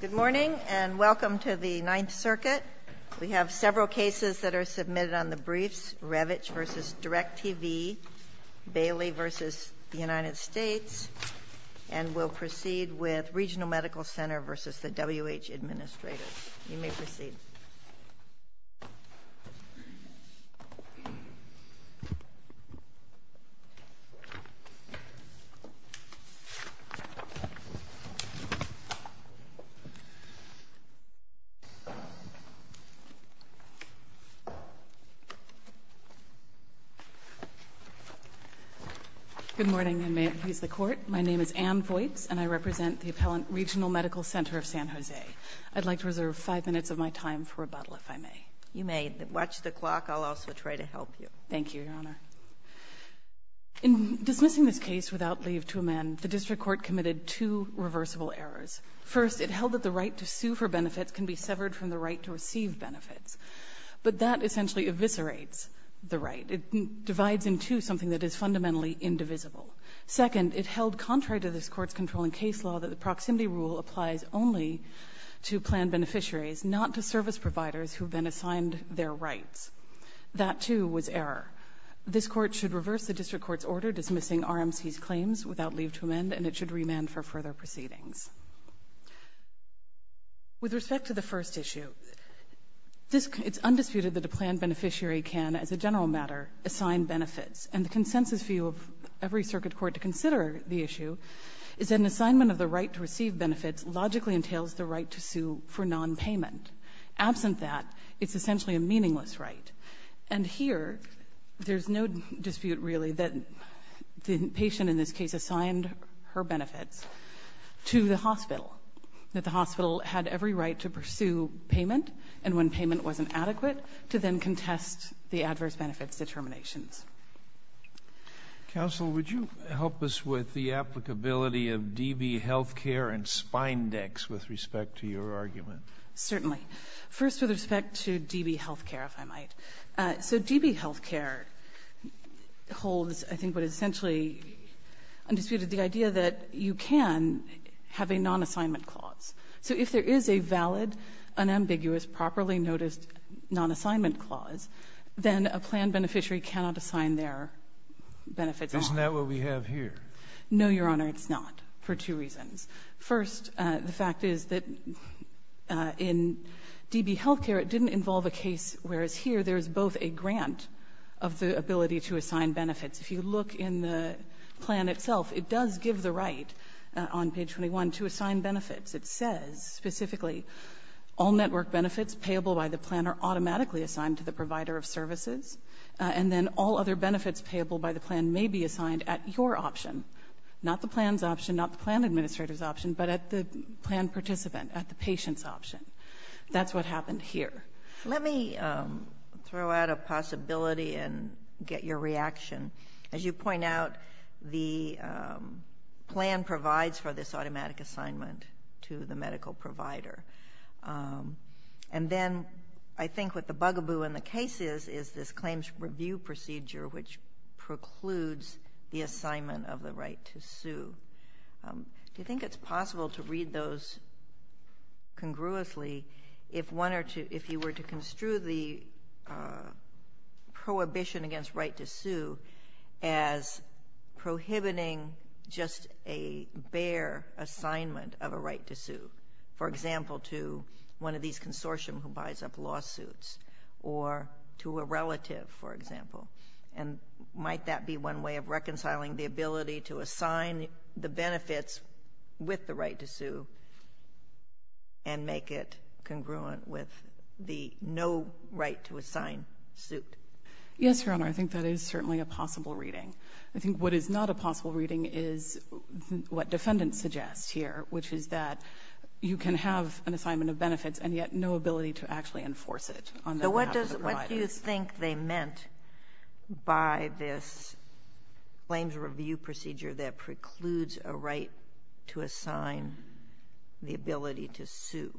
Good morning and welcome to the Ninth Circuit. We have several cases that are submitted on the briefs, Revitch v. Direct TV, Bailey v. United States, and we'll proceed with Regional Medical Center v. WH Administrators. You may proceed. Good morning, and may it please the Court. My name is Ann Voights, and I represent the appellant Regional Medical Center of San Jose. I'd like to reserve five minutes of my time for rebuttal, if I may. You may. Watch the clock. I'll also try to help you. Thank you, Your Honor. In dismissing this case without leave to amend, the District Court committed two reversible errors. First, it held that the right to sue for benefits can be severed from the right to receive benefits. But that essentially eviscerates the right. It divides in two something that is fundamentally indivisible. Second, it held, contrary to this Court's controlling case law, that the proximity rule applies only to plan beneficiaries, not to service providers who have been assigned their rights. That, too, was error. This Court should reverse the District Court's order dismissing RMC's claims without leave to amend, and it should remand for further proceedings. With respect to the first issue, it's undisputed that a plan beneficiary can, as a general matter, assign benefits. And the consensus view of every circuit court to consider the issue is that an assignment of the right to receive benefits logically entails the right to sue for nonpayment. Absent that, it's essentially a meaningless right. And here, there's no dispute, really, that the patient in this case assigned her benefits to the hospital, that the hospital had every right to pursue payment, and when payment wasn't adequate, to then contest the adverse benefits determinations. Counsel, would you help us with the applicability of DB Health Care and Spindex with respect to your argument? Certainly. First, with respect to DB Health Care, if I might. So DB Health Care holds, I think, what is essentially undisputed, the idea that you can have a nonassignment clause. So if there is a valid, unambiguous, properly noticed nonassignment clause, then a plan beneficiary cannot assign their benefits. Isn't that what we have here? No, Your Honor, it's not, for two reasons. First, the fact is that in DB Health Care, it didn't involve a case where, as here, there's both a grant of the ability to assign benefits. If you look in the plan itself, it does give the right, on page 21, to assign benefits. It says, specifically, all network benefits payable by the plan are automatically assigned to the provider of services, and then all other benefits payable by the plan may be assigned at your option, not the plan's option, not the plan administrator's option, but at the plan participant, at the patient's option. That's what happened here. Let me throw out a possibility and get your reaction. As you point out, the plan provides for this automatic assignment to the medical provider. And then I think what the bugaboo in the case is, is this claims review procedure which precludes the assignment of the right to sue. Do you think it's possible to read those congruously if you were to construe the prohibition against right to sue as prohibiting just a bare assignment of a right to sue, for example, to one of these consortium who buys up lawsuits or to a relative, for example? And might that be one way of reconciling the ability to assign the benefits with the right to sue and make it congruent with the no right to assign suit? Yes, Your Honor, I think that is certainly a possible reading. I think what is not a possible reading is what defendants suggest here, which is that you can have an assignment of benefits and yet no ability to actually enforce it. So what do you think they meant by this claims review procedure that precludes a right to assign the ability to sue?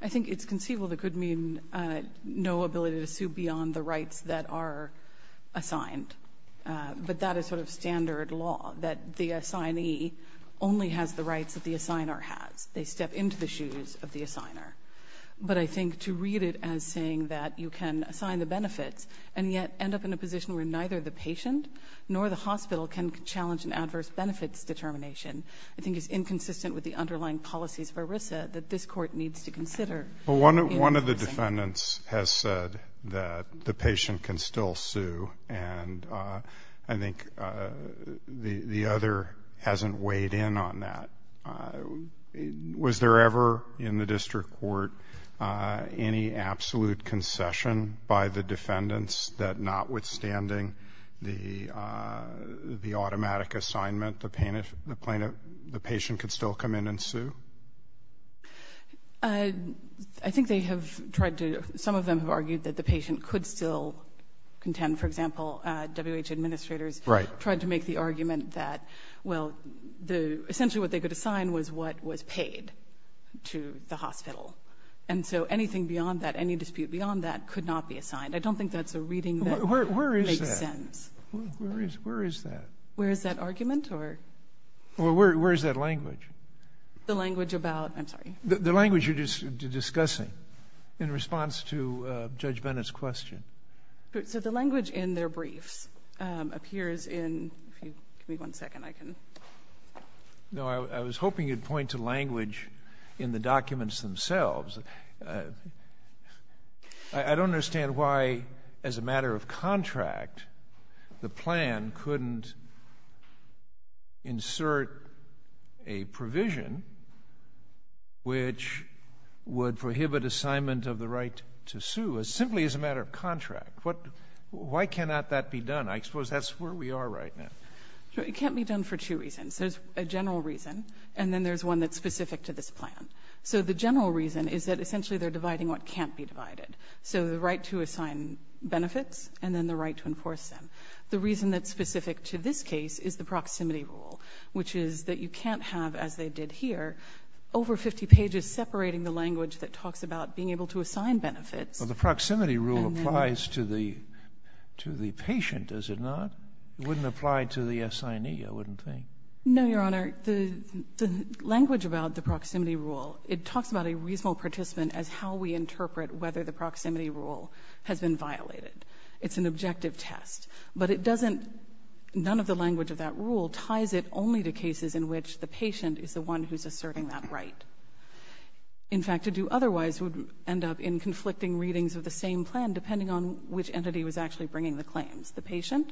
I think it's conceivable that it could mean no ability to sue beyond the rights that are assigned. But that is sort of standard law, that the assignee only has the rights that the assigner has. They step into the shoes of the assigner. But I think to read it as saying that you can assign the benefits and yet end up in a position where neither the patient nor the hospital can challenge an adverse benefits determination, I think is inconsistent with the underlying policies of ERISA that this Court needs to consider. One of the defendants has said that the patient can still sue, and I think the other hasn't weighed in on that. Was there ever in the district court any absolute concession by the defendants that notwithstanding the automatic assignment, the patient could still come in and sue? I think they have tried to. Some of them have argued that the patient could still contend. For example, W.H. administrators tried to make the argument that, well, essentially what they could assign was what was paid to the hospital. And so anything beyond that, any dispute beyond that could not be assigned. I don't think that's a reading that makes sense. Where is that? Where is that argument? Where is that language? The language about, I'm sorry. The language you're discussing in response to Judge Bennett's question. So the language in their briefs appears in, give me one second, I can. No, I was hoping you'd point to language in the documents themselves. I don't understand why, as a matter of contract, the plan couldn't insert a provision which would prohibit assignment of the right to sue, simply as a matter of contract. Why cannot that be done? I suppose that's where we are right now. It can't be done for two reasons. There's a general reason, and then there's one that's specific to this plan. So the general reason is that essentially they're dividing what can't be divided. So the right to assign benefits and then the right to enforce them. The reason that's specific to this case is the proximity rule, which is that you can't have, as they did here, over 50 pages separating the language that talks about being able to assign benefits. Well, the proximity rule applies to the patient, does it not? It wouldn't apply to the assignee, I wouldn't think. No, Your Honor. Your Honor, the language about the proximity rule, it talks about a reasonable participant as how we interpret whether the proximity rule has been violated. It's an objective test. But it doesn't ‑‑ none of the language of that rule ties it only to cases in which the patient is the one who's asserting that right. In fact, to do otherwise would end up in conflicting readings of the same plan, depending on which entity was actually bringing the claims, the patient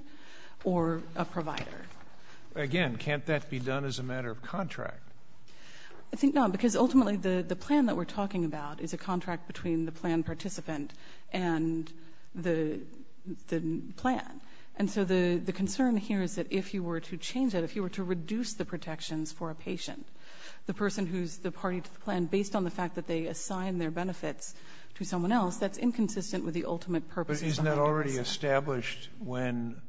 or a provider. Again, can't that be done as a matter of contract? I think not, because ultimately the plan that we're talking about is a contract between the plan participant and the plan. And so the concern here is that if you were to change that, if you were to reduce the protections for a patient, the person who's the party to the plan, based on the fact that they assign their benefits to someone else, that's inconsistent with the ultimate purpose. But isn't that already established when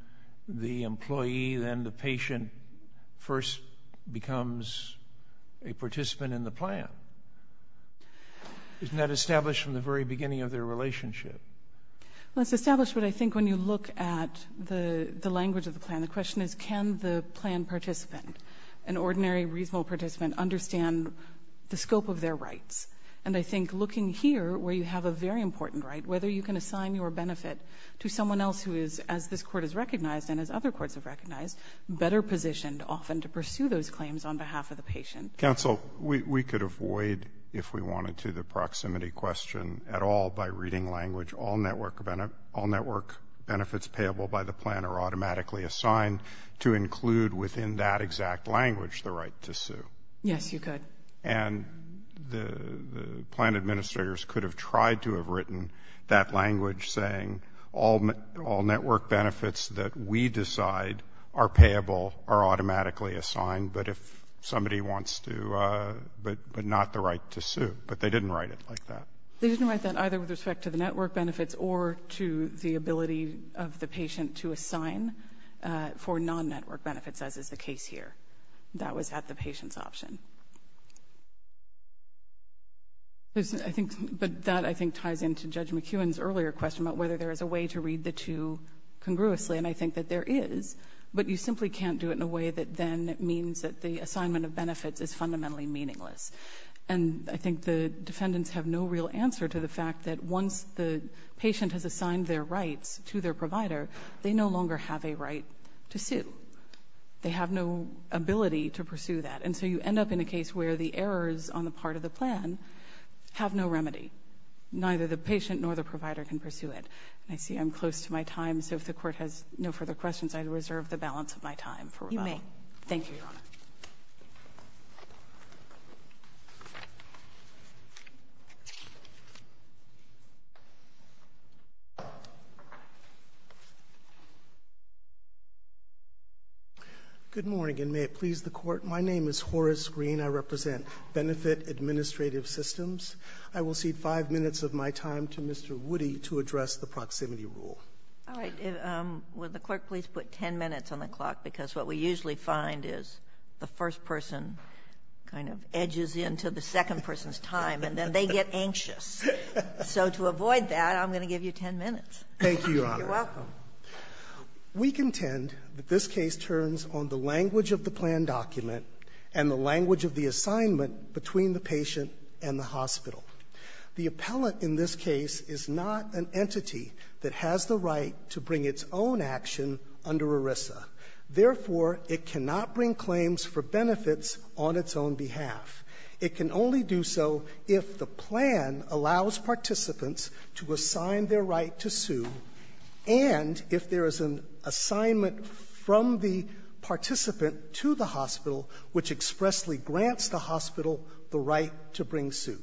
the employee, then the patient first becomes a participant in the plan? Isn't that established from the very beginning of their relationship? Well, it's established, but I think when you look at the language of the plan, the question is can the plan participant, an ordinary reasonable participant, understand the scope of their rights? And I think looking here, where you have a very important right, whether you can assign your benefit to someone else who is, as this court has recognized and as other courts have recognized, better positioned often to pursue those claims on behalf of the patient. Counsel, we could avoid, if we wanted to, the proximity question at all by reading language. All network benefits payable by the plan are automatically assigned to include within that exact language the right to sue. Yes, you could. And the plan administrators could have tried to have written that language saying all network benefits that we decide are payable are automatically assigned, but if somebody wants to, but not the right to sue. But they didn't write it like that. They didn't write that either with respect to the network benefits or to the ability of the patient to assign for non-network benefits, as is the case here. That was at the patient's option. But that, I think, ties into Judge McEwen's earlier question about whether there is a way to read the two congruously, and I think that there is, but you simply can't do it in a way that then means that the assignment of benefits is fundamentally meaningless. And I think the defendants have no real answer to the fact that once the patient has assigned their rights to their provider, they no longer have a right to sue. They have no ability to pursue that. And so you end up in a case where the errors on the part of the plan have no remedy. Neither the patient nor the provider can pursue it. I see I'm close to my time, so if the Court has no further questions, I reserve the balance of my time for rebuttal. You may. Thank you, Your Honor. Good morning, and may it please the Court. My name is Horace Green. I represent Benefit Administrative Systems. I will cede 5 minutes of my time to Mr. Woody to address the proximity rule. All right. Will the Court please put 10 minutes on the clock? Because what we usually find is the first person kind of edges into the second person's time, and then they get anxious. So to avoid that, I'm going to give you 10 minutes. Thank you, Your Honor. You're welcome. We contend that this case turns on the language of the plan document and the language of the assignment between the patient and the hospital. The appellant in this case is not an entity that has the right to bring its own action under ERISA. Therefore, it cannot bring claims for benefits on its own behalf. It can only do so if the plan allows participants to assign their right to sue and if there is an assignment from the participant to the hospital, which expressly grants the hospital the right to bring sue.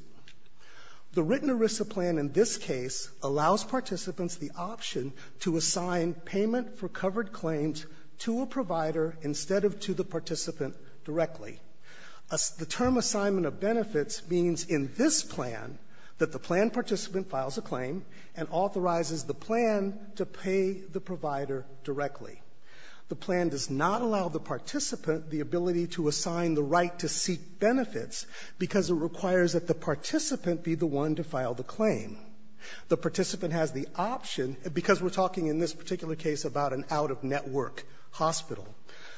The written ERISA plan in this case allows participants the option to assign payment for covered claims to a provider instead of to the participant directly. The term assignment of benefits means in this plan that the plan participant files a claim and authorizes the plan to pay the provider directly. The plan does not allow the participant the ability to assign the right to seek benefits because it requires that the participant be the one to file the claim. The participant has the option, because we're talking in this particular case about an out-of-network hospital,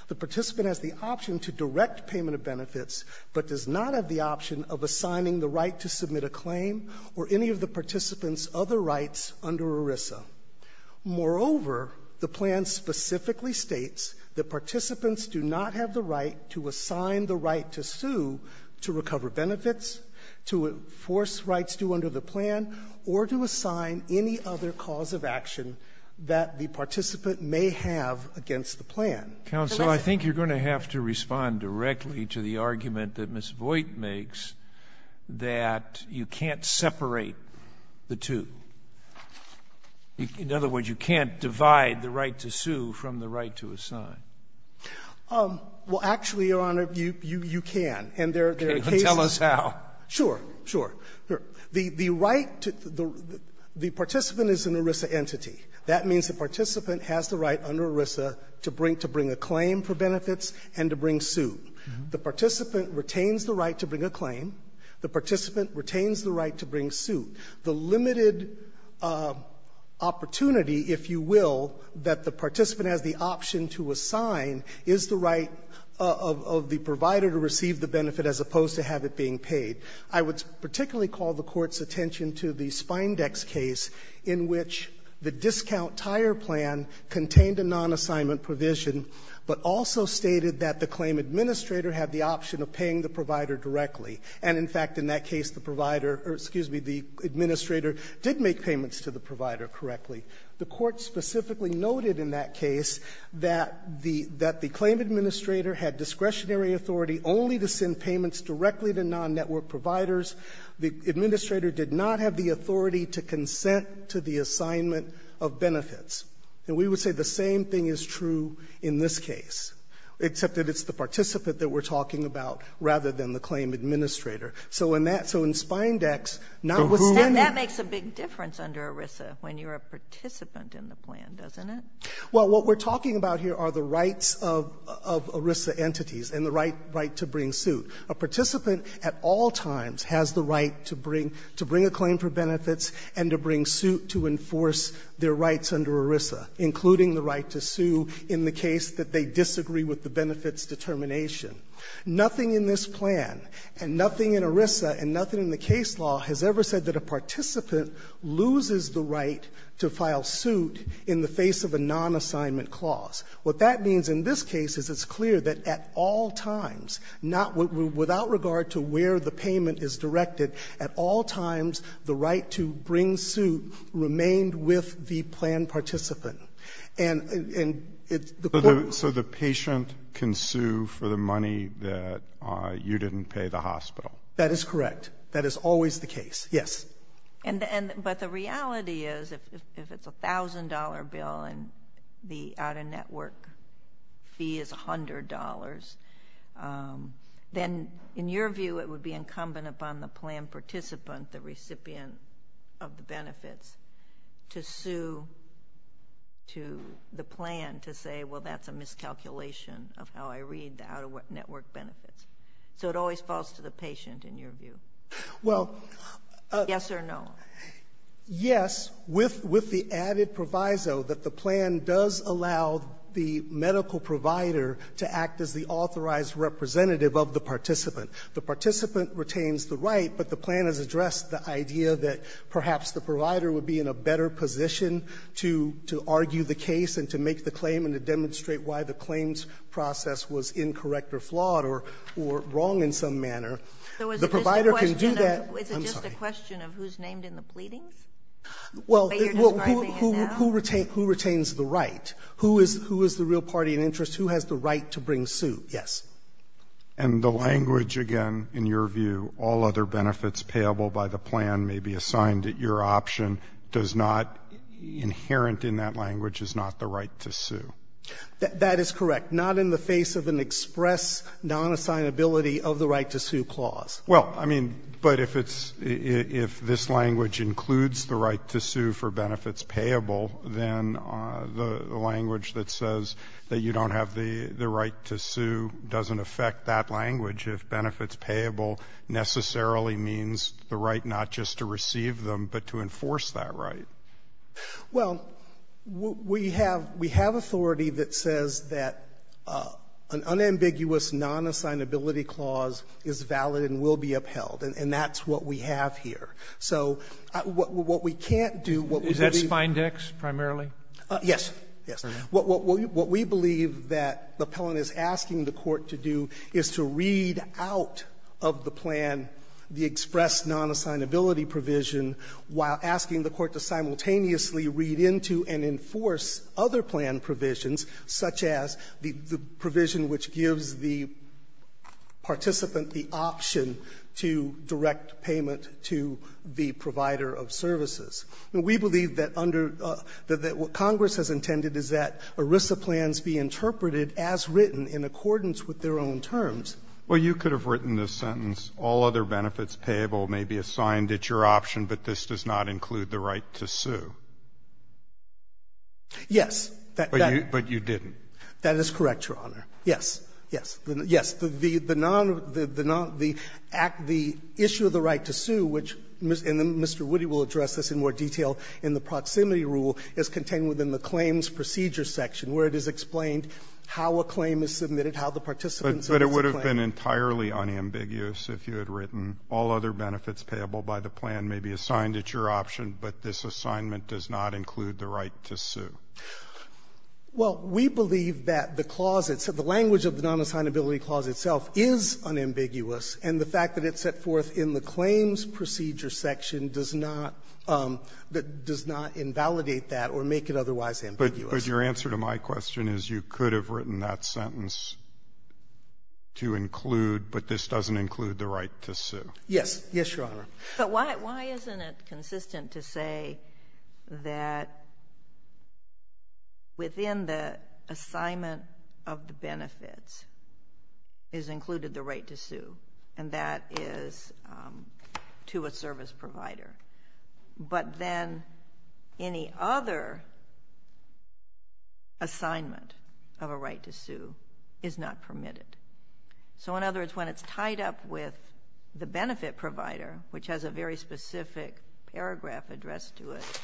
the participant has the option to direct payment of benefits, but does not have the option of assigning the right to submit a claim or any of the participant's other rights under ERISA. Moreover, the plan specifically states that participants do not have the right to assign the right to sue to recover benefits, to enforce rights due under the plan, or to assign any other cause of action that the participant may have against the plan. Sotomayor, I think you're going to have to respond directly to the argument that Ms. Voigt makes that you can't separate the two. In other words, you can't divide the right to sue from the right to assign. Well, actually, Your Honor, you can. Tell us how. Sure, sure. The right to the participant is an ERISA entity. That means the participant has the right under ERISA to bring a claim for benefits and to bring suit. The participant retains the right to bring a claim. The participant retains the right to bring suit. The limited opportunity, if you will, that the participant has the option to assign is the right of the provider to receive the benefit as opposed to have it being paid. I would particularly call the Court's attention to the Spindex case in which the discount tire plan contained a non-assignment provision, but also stated that the claim administrator had the option of paying the provider directly. And, in fact, in that case, the provider or, excuse me, the administrator did make payments to the provider correctly. The Court specifically noted in that case that the claim administrator had discretionary authority only to send payments directly to non-network providers. The administrator did not have the authority to consent to the assignment of benefits. And we would say the same thing is true in this case, except that it's the participant that we're talking about rather than the claim administrator. So in Spindex, notwithstanding... And that makes a big difference under ERISA when you're a participant in the plan, doesn't it? Well, what we're talking about here are the rights of ERISA entities and the right to bring suit. A participant at all times has the right to bring a claim for benefits and to bring suit to enforce their rights under ERISA, including the right to sue in the case that they disagree with the benefits determination. Nothing in this plan and nothing in ERISA and nothing in the case law has ever said that a participant loses the right to file suit in the face of a non-assignment clause. What that means in this case is it's clear that at all times, not without regard to where the payment is directed, at all times the right to bring suit remained with the plan participant. And the Court... So the patient can sue for the money that you didn't pay the hospital? That is correct. That is always the case. Yes. But the reality is if it's a $1,000 bill and the out-of-network fee is $100, then in your view it would be incumbent upon the plan participant, the recipient of the benefits, to sue to the plan to say, well, that's a miscalculation of how I read the out-of-network benefits. So it always falls to the patient in your view? Well... Yes or no? Yes. With the added proviso that the plan does allow the medical provider to act as the authorized representative of the participant. The participant retains the right, but the plan has addressed the idea that perhaps the provider would be in a better position to argue the case and to make the claim and to demonstrate why the claims process was incorrect or flawed or wrong in some manner. The provider can do that. I'm sorry. Is it just a question of who's named in the pleadings? But you're describing it now? Well, who retains the right? Who is the real party in interest? Who has the right to bring suit? Yes. And the language, again, in your view, all other benefits payable by the plan may be assigned at your option, does not, inherent in that language, is not the right to sue? That is correct. Not in the face of an express non-assignability of the right to sue clause. Well, I mean, but if it's — if this language includes the right to sue for benefits payable, then the language that says that you don't have the right to sue doesn't affect that language if benefits payable necessarily means the right not just to receive them, but to enforce that right. Well, we have authority that says that an unambiguous non-assignability clause is valid and will be upheld, and that's what we have here. So what we can't do, what we believe — Is that Spindex primarily? Yes. Yes. What we believe that the appellant is asking the Court to do is to read out of the express non-assignability provision while asking the Court to simultaneously read into and enforce other plan provisions, such as the provision which gives the participant the option to direct payment to the provider of services. We believe that under — that what Congress has intended is that ERISA plans be interpreted as written in accordance with their own terms. Well, you could have written this sentence, all other benefits payable may be assigned at your option, but this does not include the right to sue. Yes. But you didn't. That is correct, Your Honor. Yes. Yes. Yes. The non — the issue of the right to sue, which Mr. Woody will address this in more detail in the proximity rule, is contained within the claims procedure section, where it is explained how a claim is submitted, how the participant submits a claim. But it would have been entirely unambiguous if you had written all other benefits payable by the plan may be assigned at your option, but this assignment does not include the right to sue. Well, we believe that the clause itself — the language of the non-assignability clause itself is unambiguous, and the fact that it's set forth in the claims procedure section does not — does not invalidate that or make it otherwise ambiguous. But your answer to my question is you could have written that sentence to include, but this doesn't include the right to sue. Yes. Yes, Your Honor. But why — why isn't it consistent to say that within the assignment of the benefits is included the right to sue, and that is to a service provider? But then any other assignment of a right to sue is not permitted. So, in other words, when it's tied up with the benefit provider, which has a very specific paragraph addressed to it,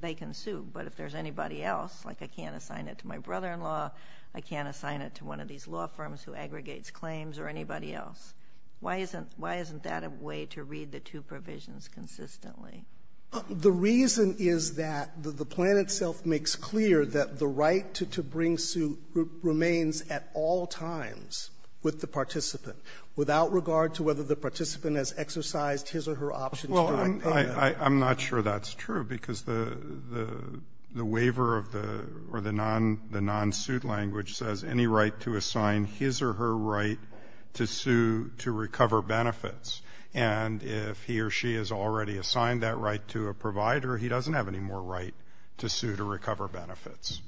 they can sue. But if there's anybody else, like I can't assign it to my brother-in-law, I can't assign it to one of these law firms who aggregates claims, or anybody else, why isn't — why The reason is that the plan itself makes clear that the right to bring suit remains at all times with the participant, without regard to whether the participant has exercised his or her options during payment. Well, I'm not sure that's true, because the waiver of the — or the non-suit language says any right to assign his or her right to sue to recover benefits. And if he or she has already assigned that right to a provider, he doesn't have any more right to sue to recover benefits.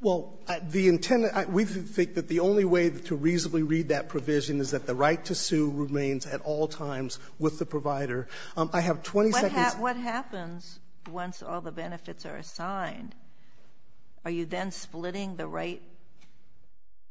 Well, the intent — we think that the only way to reasonably read that provision is that the right to sue remains at all times with the provider. I have 20 seconds — What happens once all the benefits are assigned? Are you then splitting the right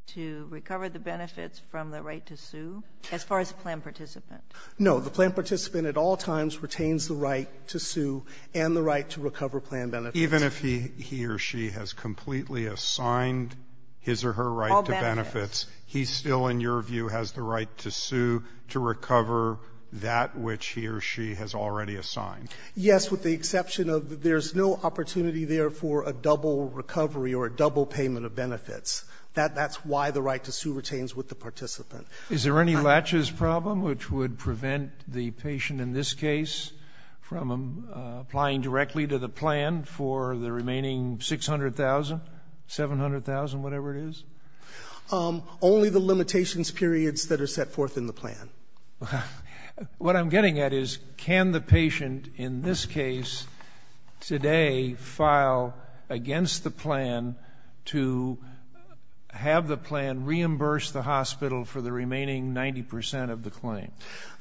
to recover the benefits from the right to sue? As far as the plan participant. No. The plan participant at all times retains the right to sue and the right to recover plan benefits. Even if he or she has completely assigned his or her right to benefits, he still, in your view, has the right to sue to recover that which he or she has already assigned? Yes, with the exception of there's no opportunity there for a double recovery or a double payment of benefits. That's why the right to sue retains with the participant. Is there any latches problem which would prevent the patient in this case from applying directly to the plan for the remaining $600,000, $700,000, whatever it is? Only the limitations periods that are set forth in the plan. What I'm getting at is can the patient in this case today file against the plan to have the plan reimburse the hospital for the remaining 90% of the claim?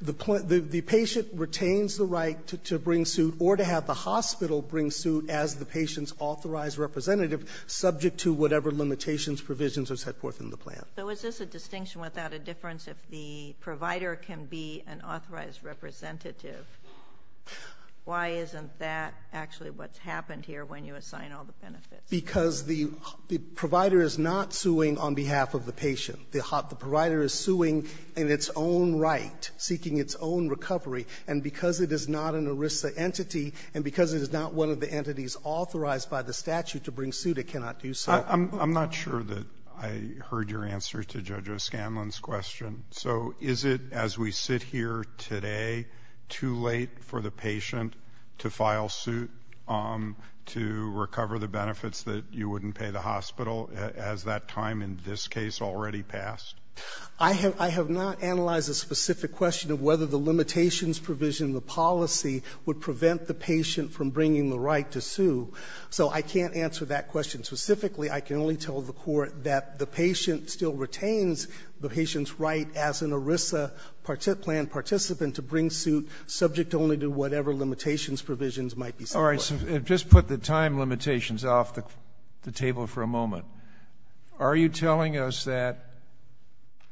The patient retains the right to bring suit or to have the hospital bring suit as the patient's authorized representative subject to whatever limitations, provisions are set forth in the plan. So is this a distinction without a difference if the provider can be an authorized representative? Why isn't that actually what's happened here when you assign all the benefits? Because the provider is not suing on behalf of the patient. The provider is suing in its own right, seeking its own recovery. And because it is not an ERISA entity and because it is not one of the entities authorized by the statute to bring suit, it cannot do so. I'm not sure that I heard your answer to Judge O'Scanlan's question. So is it as we sit here today too late for the patient to file suit to recover the benefits that you wouldn't pay the hospital as that time in this case already passed? I have not analyzed a specific question of whether the limitations provision in the policy would prevent the patient from bringing the right to sue. So I can't answer that question specifically. I can only tell the Court that the patient still retains the patient's right as an ERISA plan participant to bring suit subject only to whatever limitations, provisions might be set forth. All right. Just put the time limitations off the table for a moment. Are you telling us that,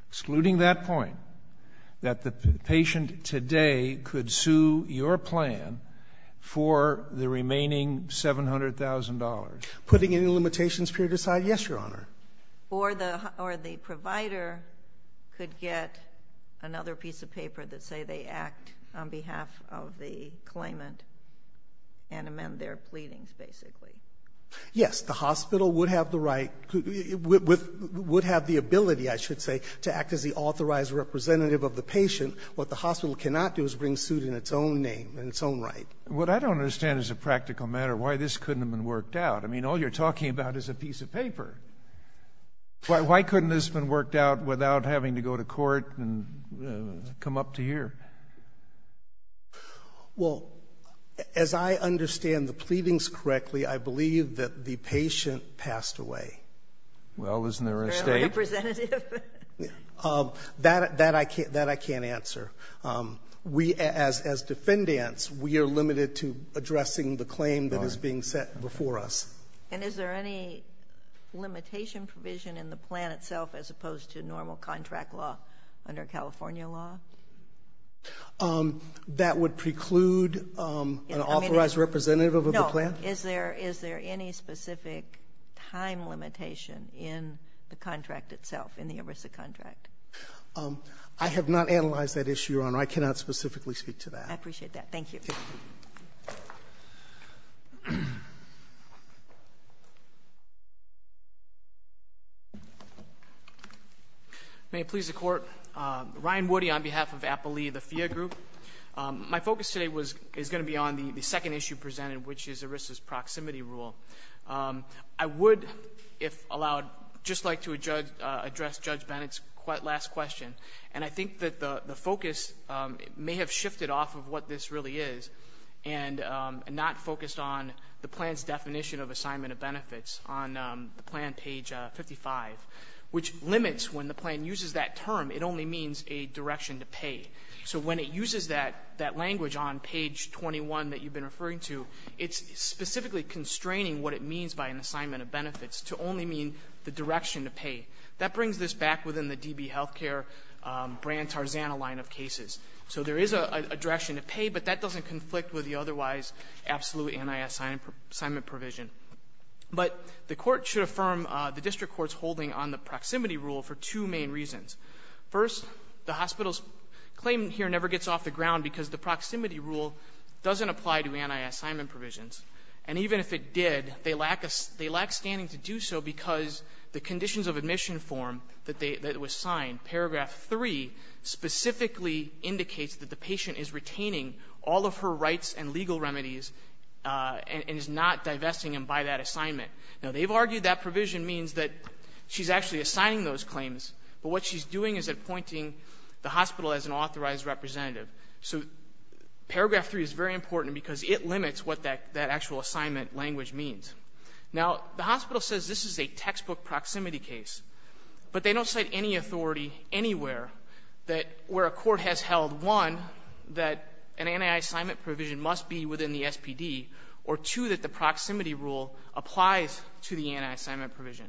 excluding that point, that the patient today could sue your plan for the remaining $700,000? Putting any limitations period aside, yes, Your Honor. Or the provider could get another piece of paper that say they act on behalf of the claimant and amend their pleadings, basically? Yes. The hospital would have the right, would have the ability, I should say, to act as the authorized representative of the patient. What the hospital cannot do is bring suit in its own name, in its own right. What I don't understand as a practical matter, why this couldn't have been worked out. I mean, all you're talking about is a piece of paper. Why couldn't this have been worked out without having to go to court and come up to here? Well, as I understand the pleadings correctly, I believe that the patient passed away. Well, isn't there a state? Or a representative? That I can't answer. We, as defendants, we are limited to addressing the claim that is being set before us. And is there any limitation provision in the plan itself as opposed to normal contract law under California law? That would preclude an authorized representative of the plan? No. Is there any specific time limitation in the contract itself, in the ERISA contract? I have not analyzed that issue, Your Honor. I cannot specifically speak to that. I appreciate that. Thank you. May it please the Court. Ryan Woody on behalf of Appalee, the FIA group. My focus today is going to be on the second issue presented, which is ERISA's proximity rule. I would, if allowed, just like to address Judge Bennett's last question. And I think that the focus may have shifted off of what this really is and not focused on the plan's definition of assignment of benefits on the plan, page 55, which limits when the plan uses that term. It only means a direction to pay. So when it uses that language on page 21 that you've been referring to, it's specifically constraining what it means by an assignment of benefits to only mean the direction to pay. That brings this back within the DB Health Care brand Tarzana line of cases. So there is a direction to pay, but that doesn't conflict with the otherwise absolute anti-assignment provision. But the Court should affirm the district court's holding on the proximity rule for two main reasons. First, the hospital's claim here never gets off the ground because the proximity rule doesn't apply to anti-assignment provisions. And even if it did, they lack standing to do so because the conditions of admission form that was signed, paragraph 3, specifically indicates that the patient is retaining all of her rights and legal remedies and is not divesting them by that assignment. Now, they've argued that provision means that she's actually assigning those claims, but what she's doing is appointing the hospital as an authorized representative. So paragraph 3 is very important because it limits what that actual assignment language means. Now, the hospital says this is a textbook proximity case, but they don't cite any authority anywhere that where a court has held, one, that an anti-assignment provision must be within the SPD, or two, that the proximity rule applies to the anti-assignment provision.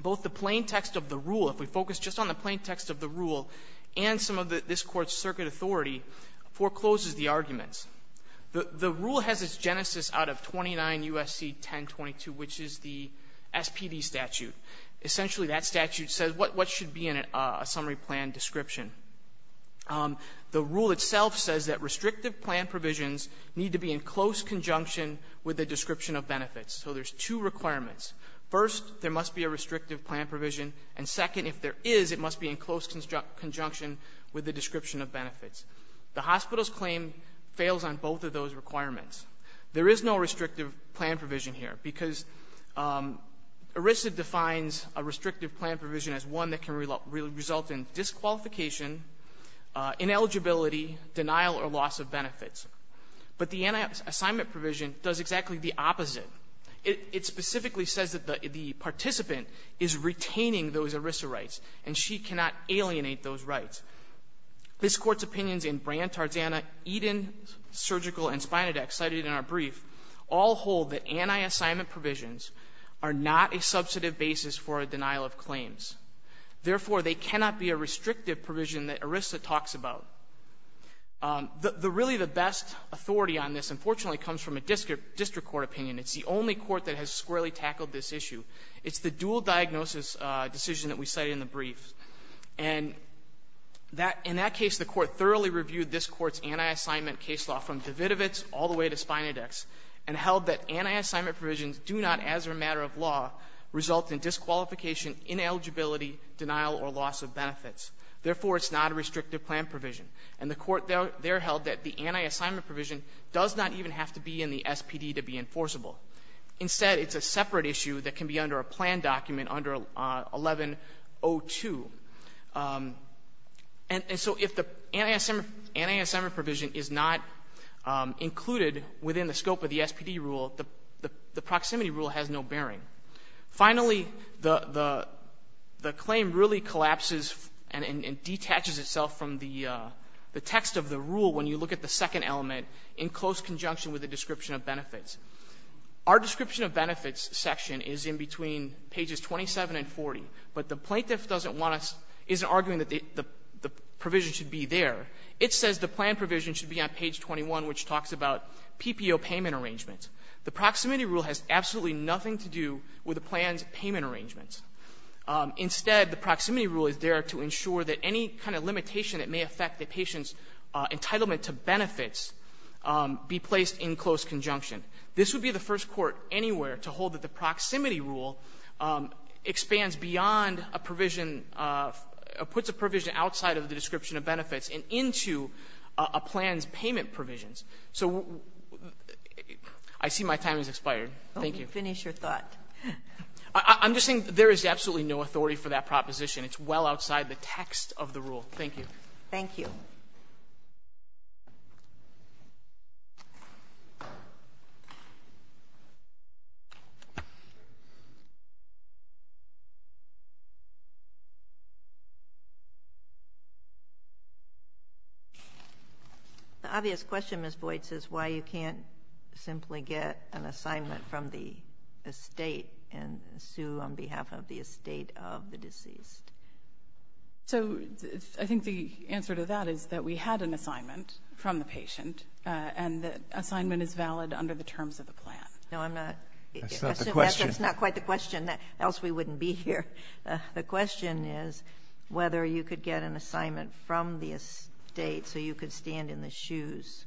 Both the plain text of the rule, if we focus just on the plain text of the rule and some of this court's circuit authority, forecloses the arguments. The rule has its genesis out of 29 U.S.C. 1022, which is the SPD statute. Essentially, that statute says what should be in a summary plan description. The rule itself says that restrictive plan provisions need to be in close conjunction with the description of benefits. So there's two requirements. First, there must be a restrictive plan provision. And second, if there is, it must be in close conjunction with the description of benefits. The hospital's claim fails on both of those requirements. There is no restrictive plan provision here, because ERISA defines a restrictive plan provision as one that can result in disqualification, ineligibility, denial or loss of benefits. But the anti-assignment provision does exactly the opposite. It specifically says that the participant is retaining those ERISA rights, and she cannot alienate those rights. This Court's opinions in Brandt, Tarzana, Eden, Surgical, and Spinodex cited in our brief all hold that anti-assignment provisions are not a substantive basis for a denial of claims. Therefore, they cannot be a restrictive provision that ERISA talks about. Really, the best authority on this, unfortunately, comes from a district court opinion. It's the only court that has squarely tackled this issue. It's the dual diagnosis decision that we cited in the brief. And in that case, the Court thoroughly reviewed this Court's anti-assignment case law from Davidovitz all the way to Spinodex, and held that anti-assignment provisions do not, as a matter of law, result in disqualification, ineligibility, denial or loss of benefits. Therefore, it's not a restrictive plan provision. And the Court there held that the anti-assignment provision does not even have to be in the SPD to be enforceable. Instead, it's a separate issue that can be under a plan document under 1102. And so if the anti-assignment provision is not included within the scope of the SPD rule, the proximity rule has no bearing. Finally, the claim really collapses and detaches itself from the text of the rule when you look at the second element in close conjunction with the description of benefits. Our description of benefits section is in between pages 27 and 40, but the plaintiff doesn't want to — isn't arguing that the provision should be there. It says the plan provision should be on page 21, which talks about PPO payment arrangements. The proximity rule has absolutely nothing to do with the plan's payment arrangements. Instead, the proximity rule is there to ensure that any kind of limitation that may affect the patient's entitlement to benefits be placed in close conjunction. This would be the first court anywhere to hold that the proximity rule expands beyond a provision, puts a provision outside of the description of benefits and into a plan's payment provisions. So I see my time has expired. Thank you. Sotomayor, finish your thought. I'm just saying there is absolutely no authority for that proposition. It's well outside the text of the rule. Thank you. Thank you. The obvious question, Ms. Boyd, is why you can't simply get an assignment from the estate and sue on behalf of the estate of the deceased. So I think the answer to that is that we had an assignment from the patient and the assignment is valid under the terms of the plan. No, I'm not. That's not the question. That's not quite the question. Else we wouldn't be here. The question is whether you could get an assignment from the estate so you could stand in the shoes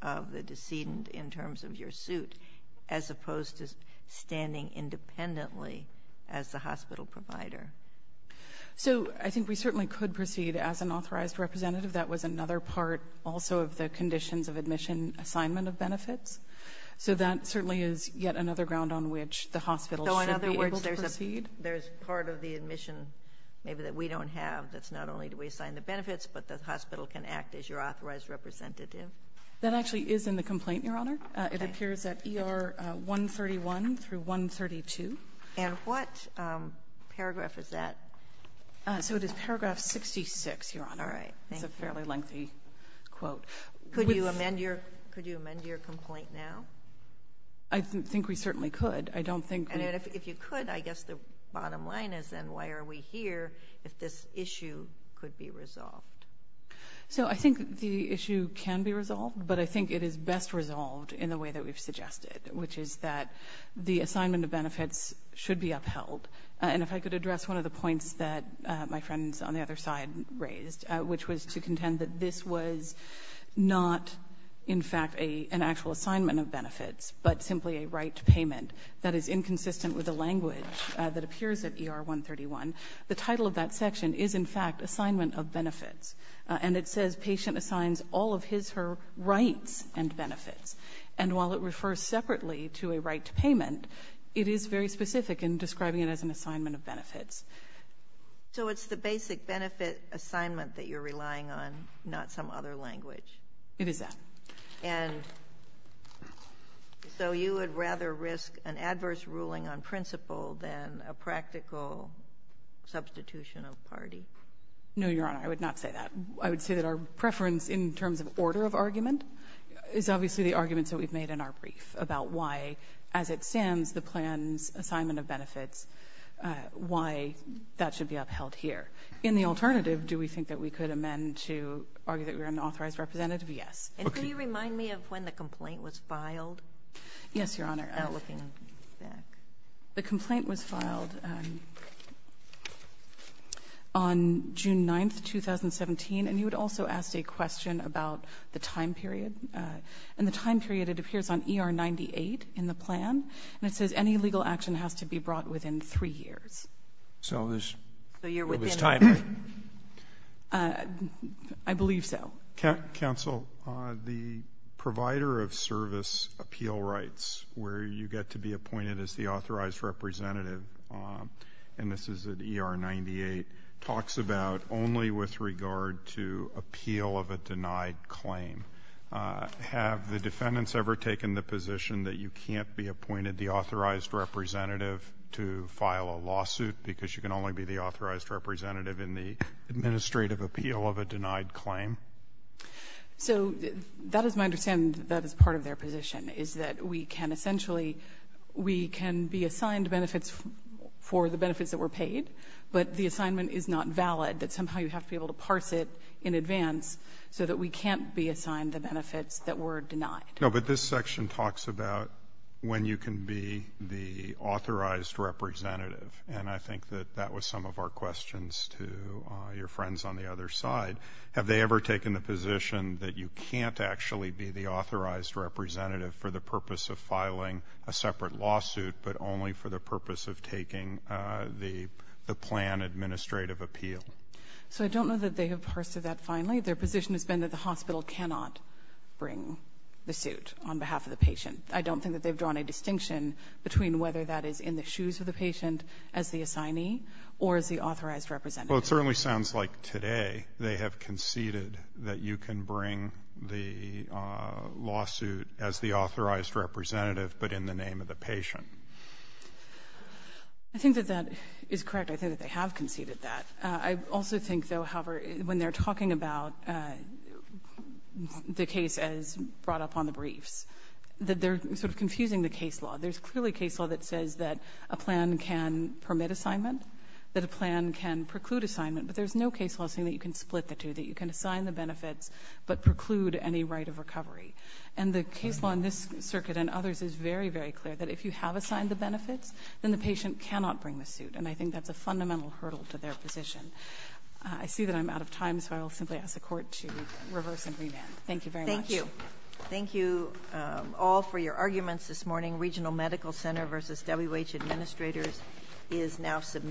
of the decedent in terms of your suit, as opposed to standing independently as the hospital provider. So I think we certainly could proceed as an authorized representative. That was another part, also, of the conditions of admission assignment of benefits. So that certainly is yet another ground on which the hospital should be able to proceed. So, in other words, there's part of the admission maybe that we don't have that's not only do we assign the benefits, but the hospital can act as your authorized representative? That actually is in the complaint, Your Honor. It appears at ER 131 through 132. And what paragraph is that? So it is paragraph 66, Your Honor. It's a fairly lengthy quote. Could you amend your complaint now? I think we certainly could. If you could, I guess the bottom line is then why are we here if this issue could be resolved? So I think the issue can be resolved, but I think it is best resolved in the way that we've suggested, which is that the assignment of benefits should be upheld. And if I could address one of the points that my friends on the other side raised, which was to contend that this was not, in fact, an actual assignment of benefits, but simply a right to payment that is inconsistent with the language that appears at ER 131. The title of that section is, in fact, assignment of benefits. And it says patient assigns all of his or her rights and benefits. And while it refers separately to a right to payment, it is very specific in describing it as an assignment of benefits. So it's the basic benefit assignment that you're relying on, not some other language? It is that. And so you would rather risk an adverse ruling on principle than a practical substitution of party? No, Your Honor, I would not say that. I would say that our preference in terms of order of argument is obviously the arguments that we've made in our brief about why, as it stands, the plan's assignment of benefits, why that should be upheld here. In the alternative, do we think that we could amend to argue that we are an authorized representative? Yes. And can you remind me of when the complaint was filed? Yes, Your Honor. The complaint was filed on June 9, 2017. And you had also asked a question about the time period. And the time period, it appears on ER 98 in the plan. And it says any legal action has to be brought within three years. So you're within? I believe so. Counsel, the provider of service appeal rights, where you get to be appointed as the authorized representative, and this is at ER 98, talks about only with regard to appeal of a denied claim. Have the defendants ever taken the position that you can't be appointed the authorized representative to file a lawsuit because you can only be the So that is my understanding that is part of their position, is that we can essentially, we can be assigned benefits for the benefits that were paid, but the assignment is not valid, that somehow you have to be able to parse it in advance so that we can't be assigned the benefits that were denied. No, but this section talks about when you can be the authorized representative. And I think that that was some of our questions to your friends on the other side. Have they ever taken the position that you can't actually be the authorized representative for the purpose of filing a separate lawsuit, but only for the purpose of taking the plan administrative appeal? So I don't know that they have parsed that finally. Their position has been that the hospital cannot bring the suit on behalf of the patient. I don't think that they've drawn a distinction between whether that is in the shoes of the patient as the assignee or as the authorized representative. Well, it certainly sounds like today they have conceded that you can bring the lawsuit as the authorized representative, but in the name of the patient. I think that that is correct. I think that they have conceded that. I also think, though, however, when they're talking about the case as brought up on the briefs, that they're sort of confusing the case law. There's clearly case law that says that a plan can permit assignment, that a plan can preclude assignment, but there's no case law saying that you can split the two, that you can assign the benefits but preclude any right of recovery. And the case law in this circuit and others is very, very clear, that if you have assigned the benefits, then the patient cannot bring the suit. And I think that's a fundamental hurdle to their position. I see that I'm out of time, so I will simply ask the Court to reverse and remand. Thank you very much. Thank you. Thank you all for your arguments this morning. Regional Medical Center v. W.H. Administrators is now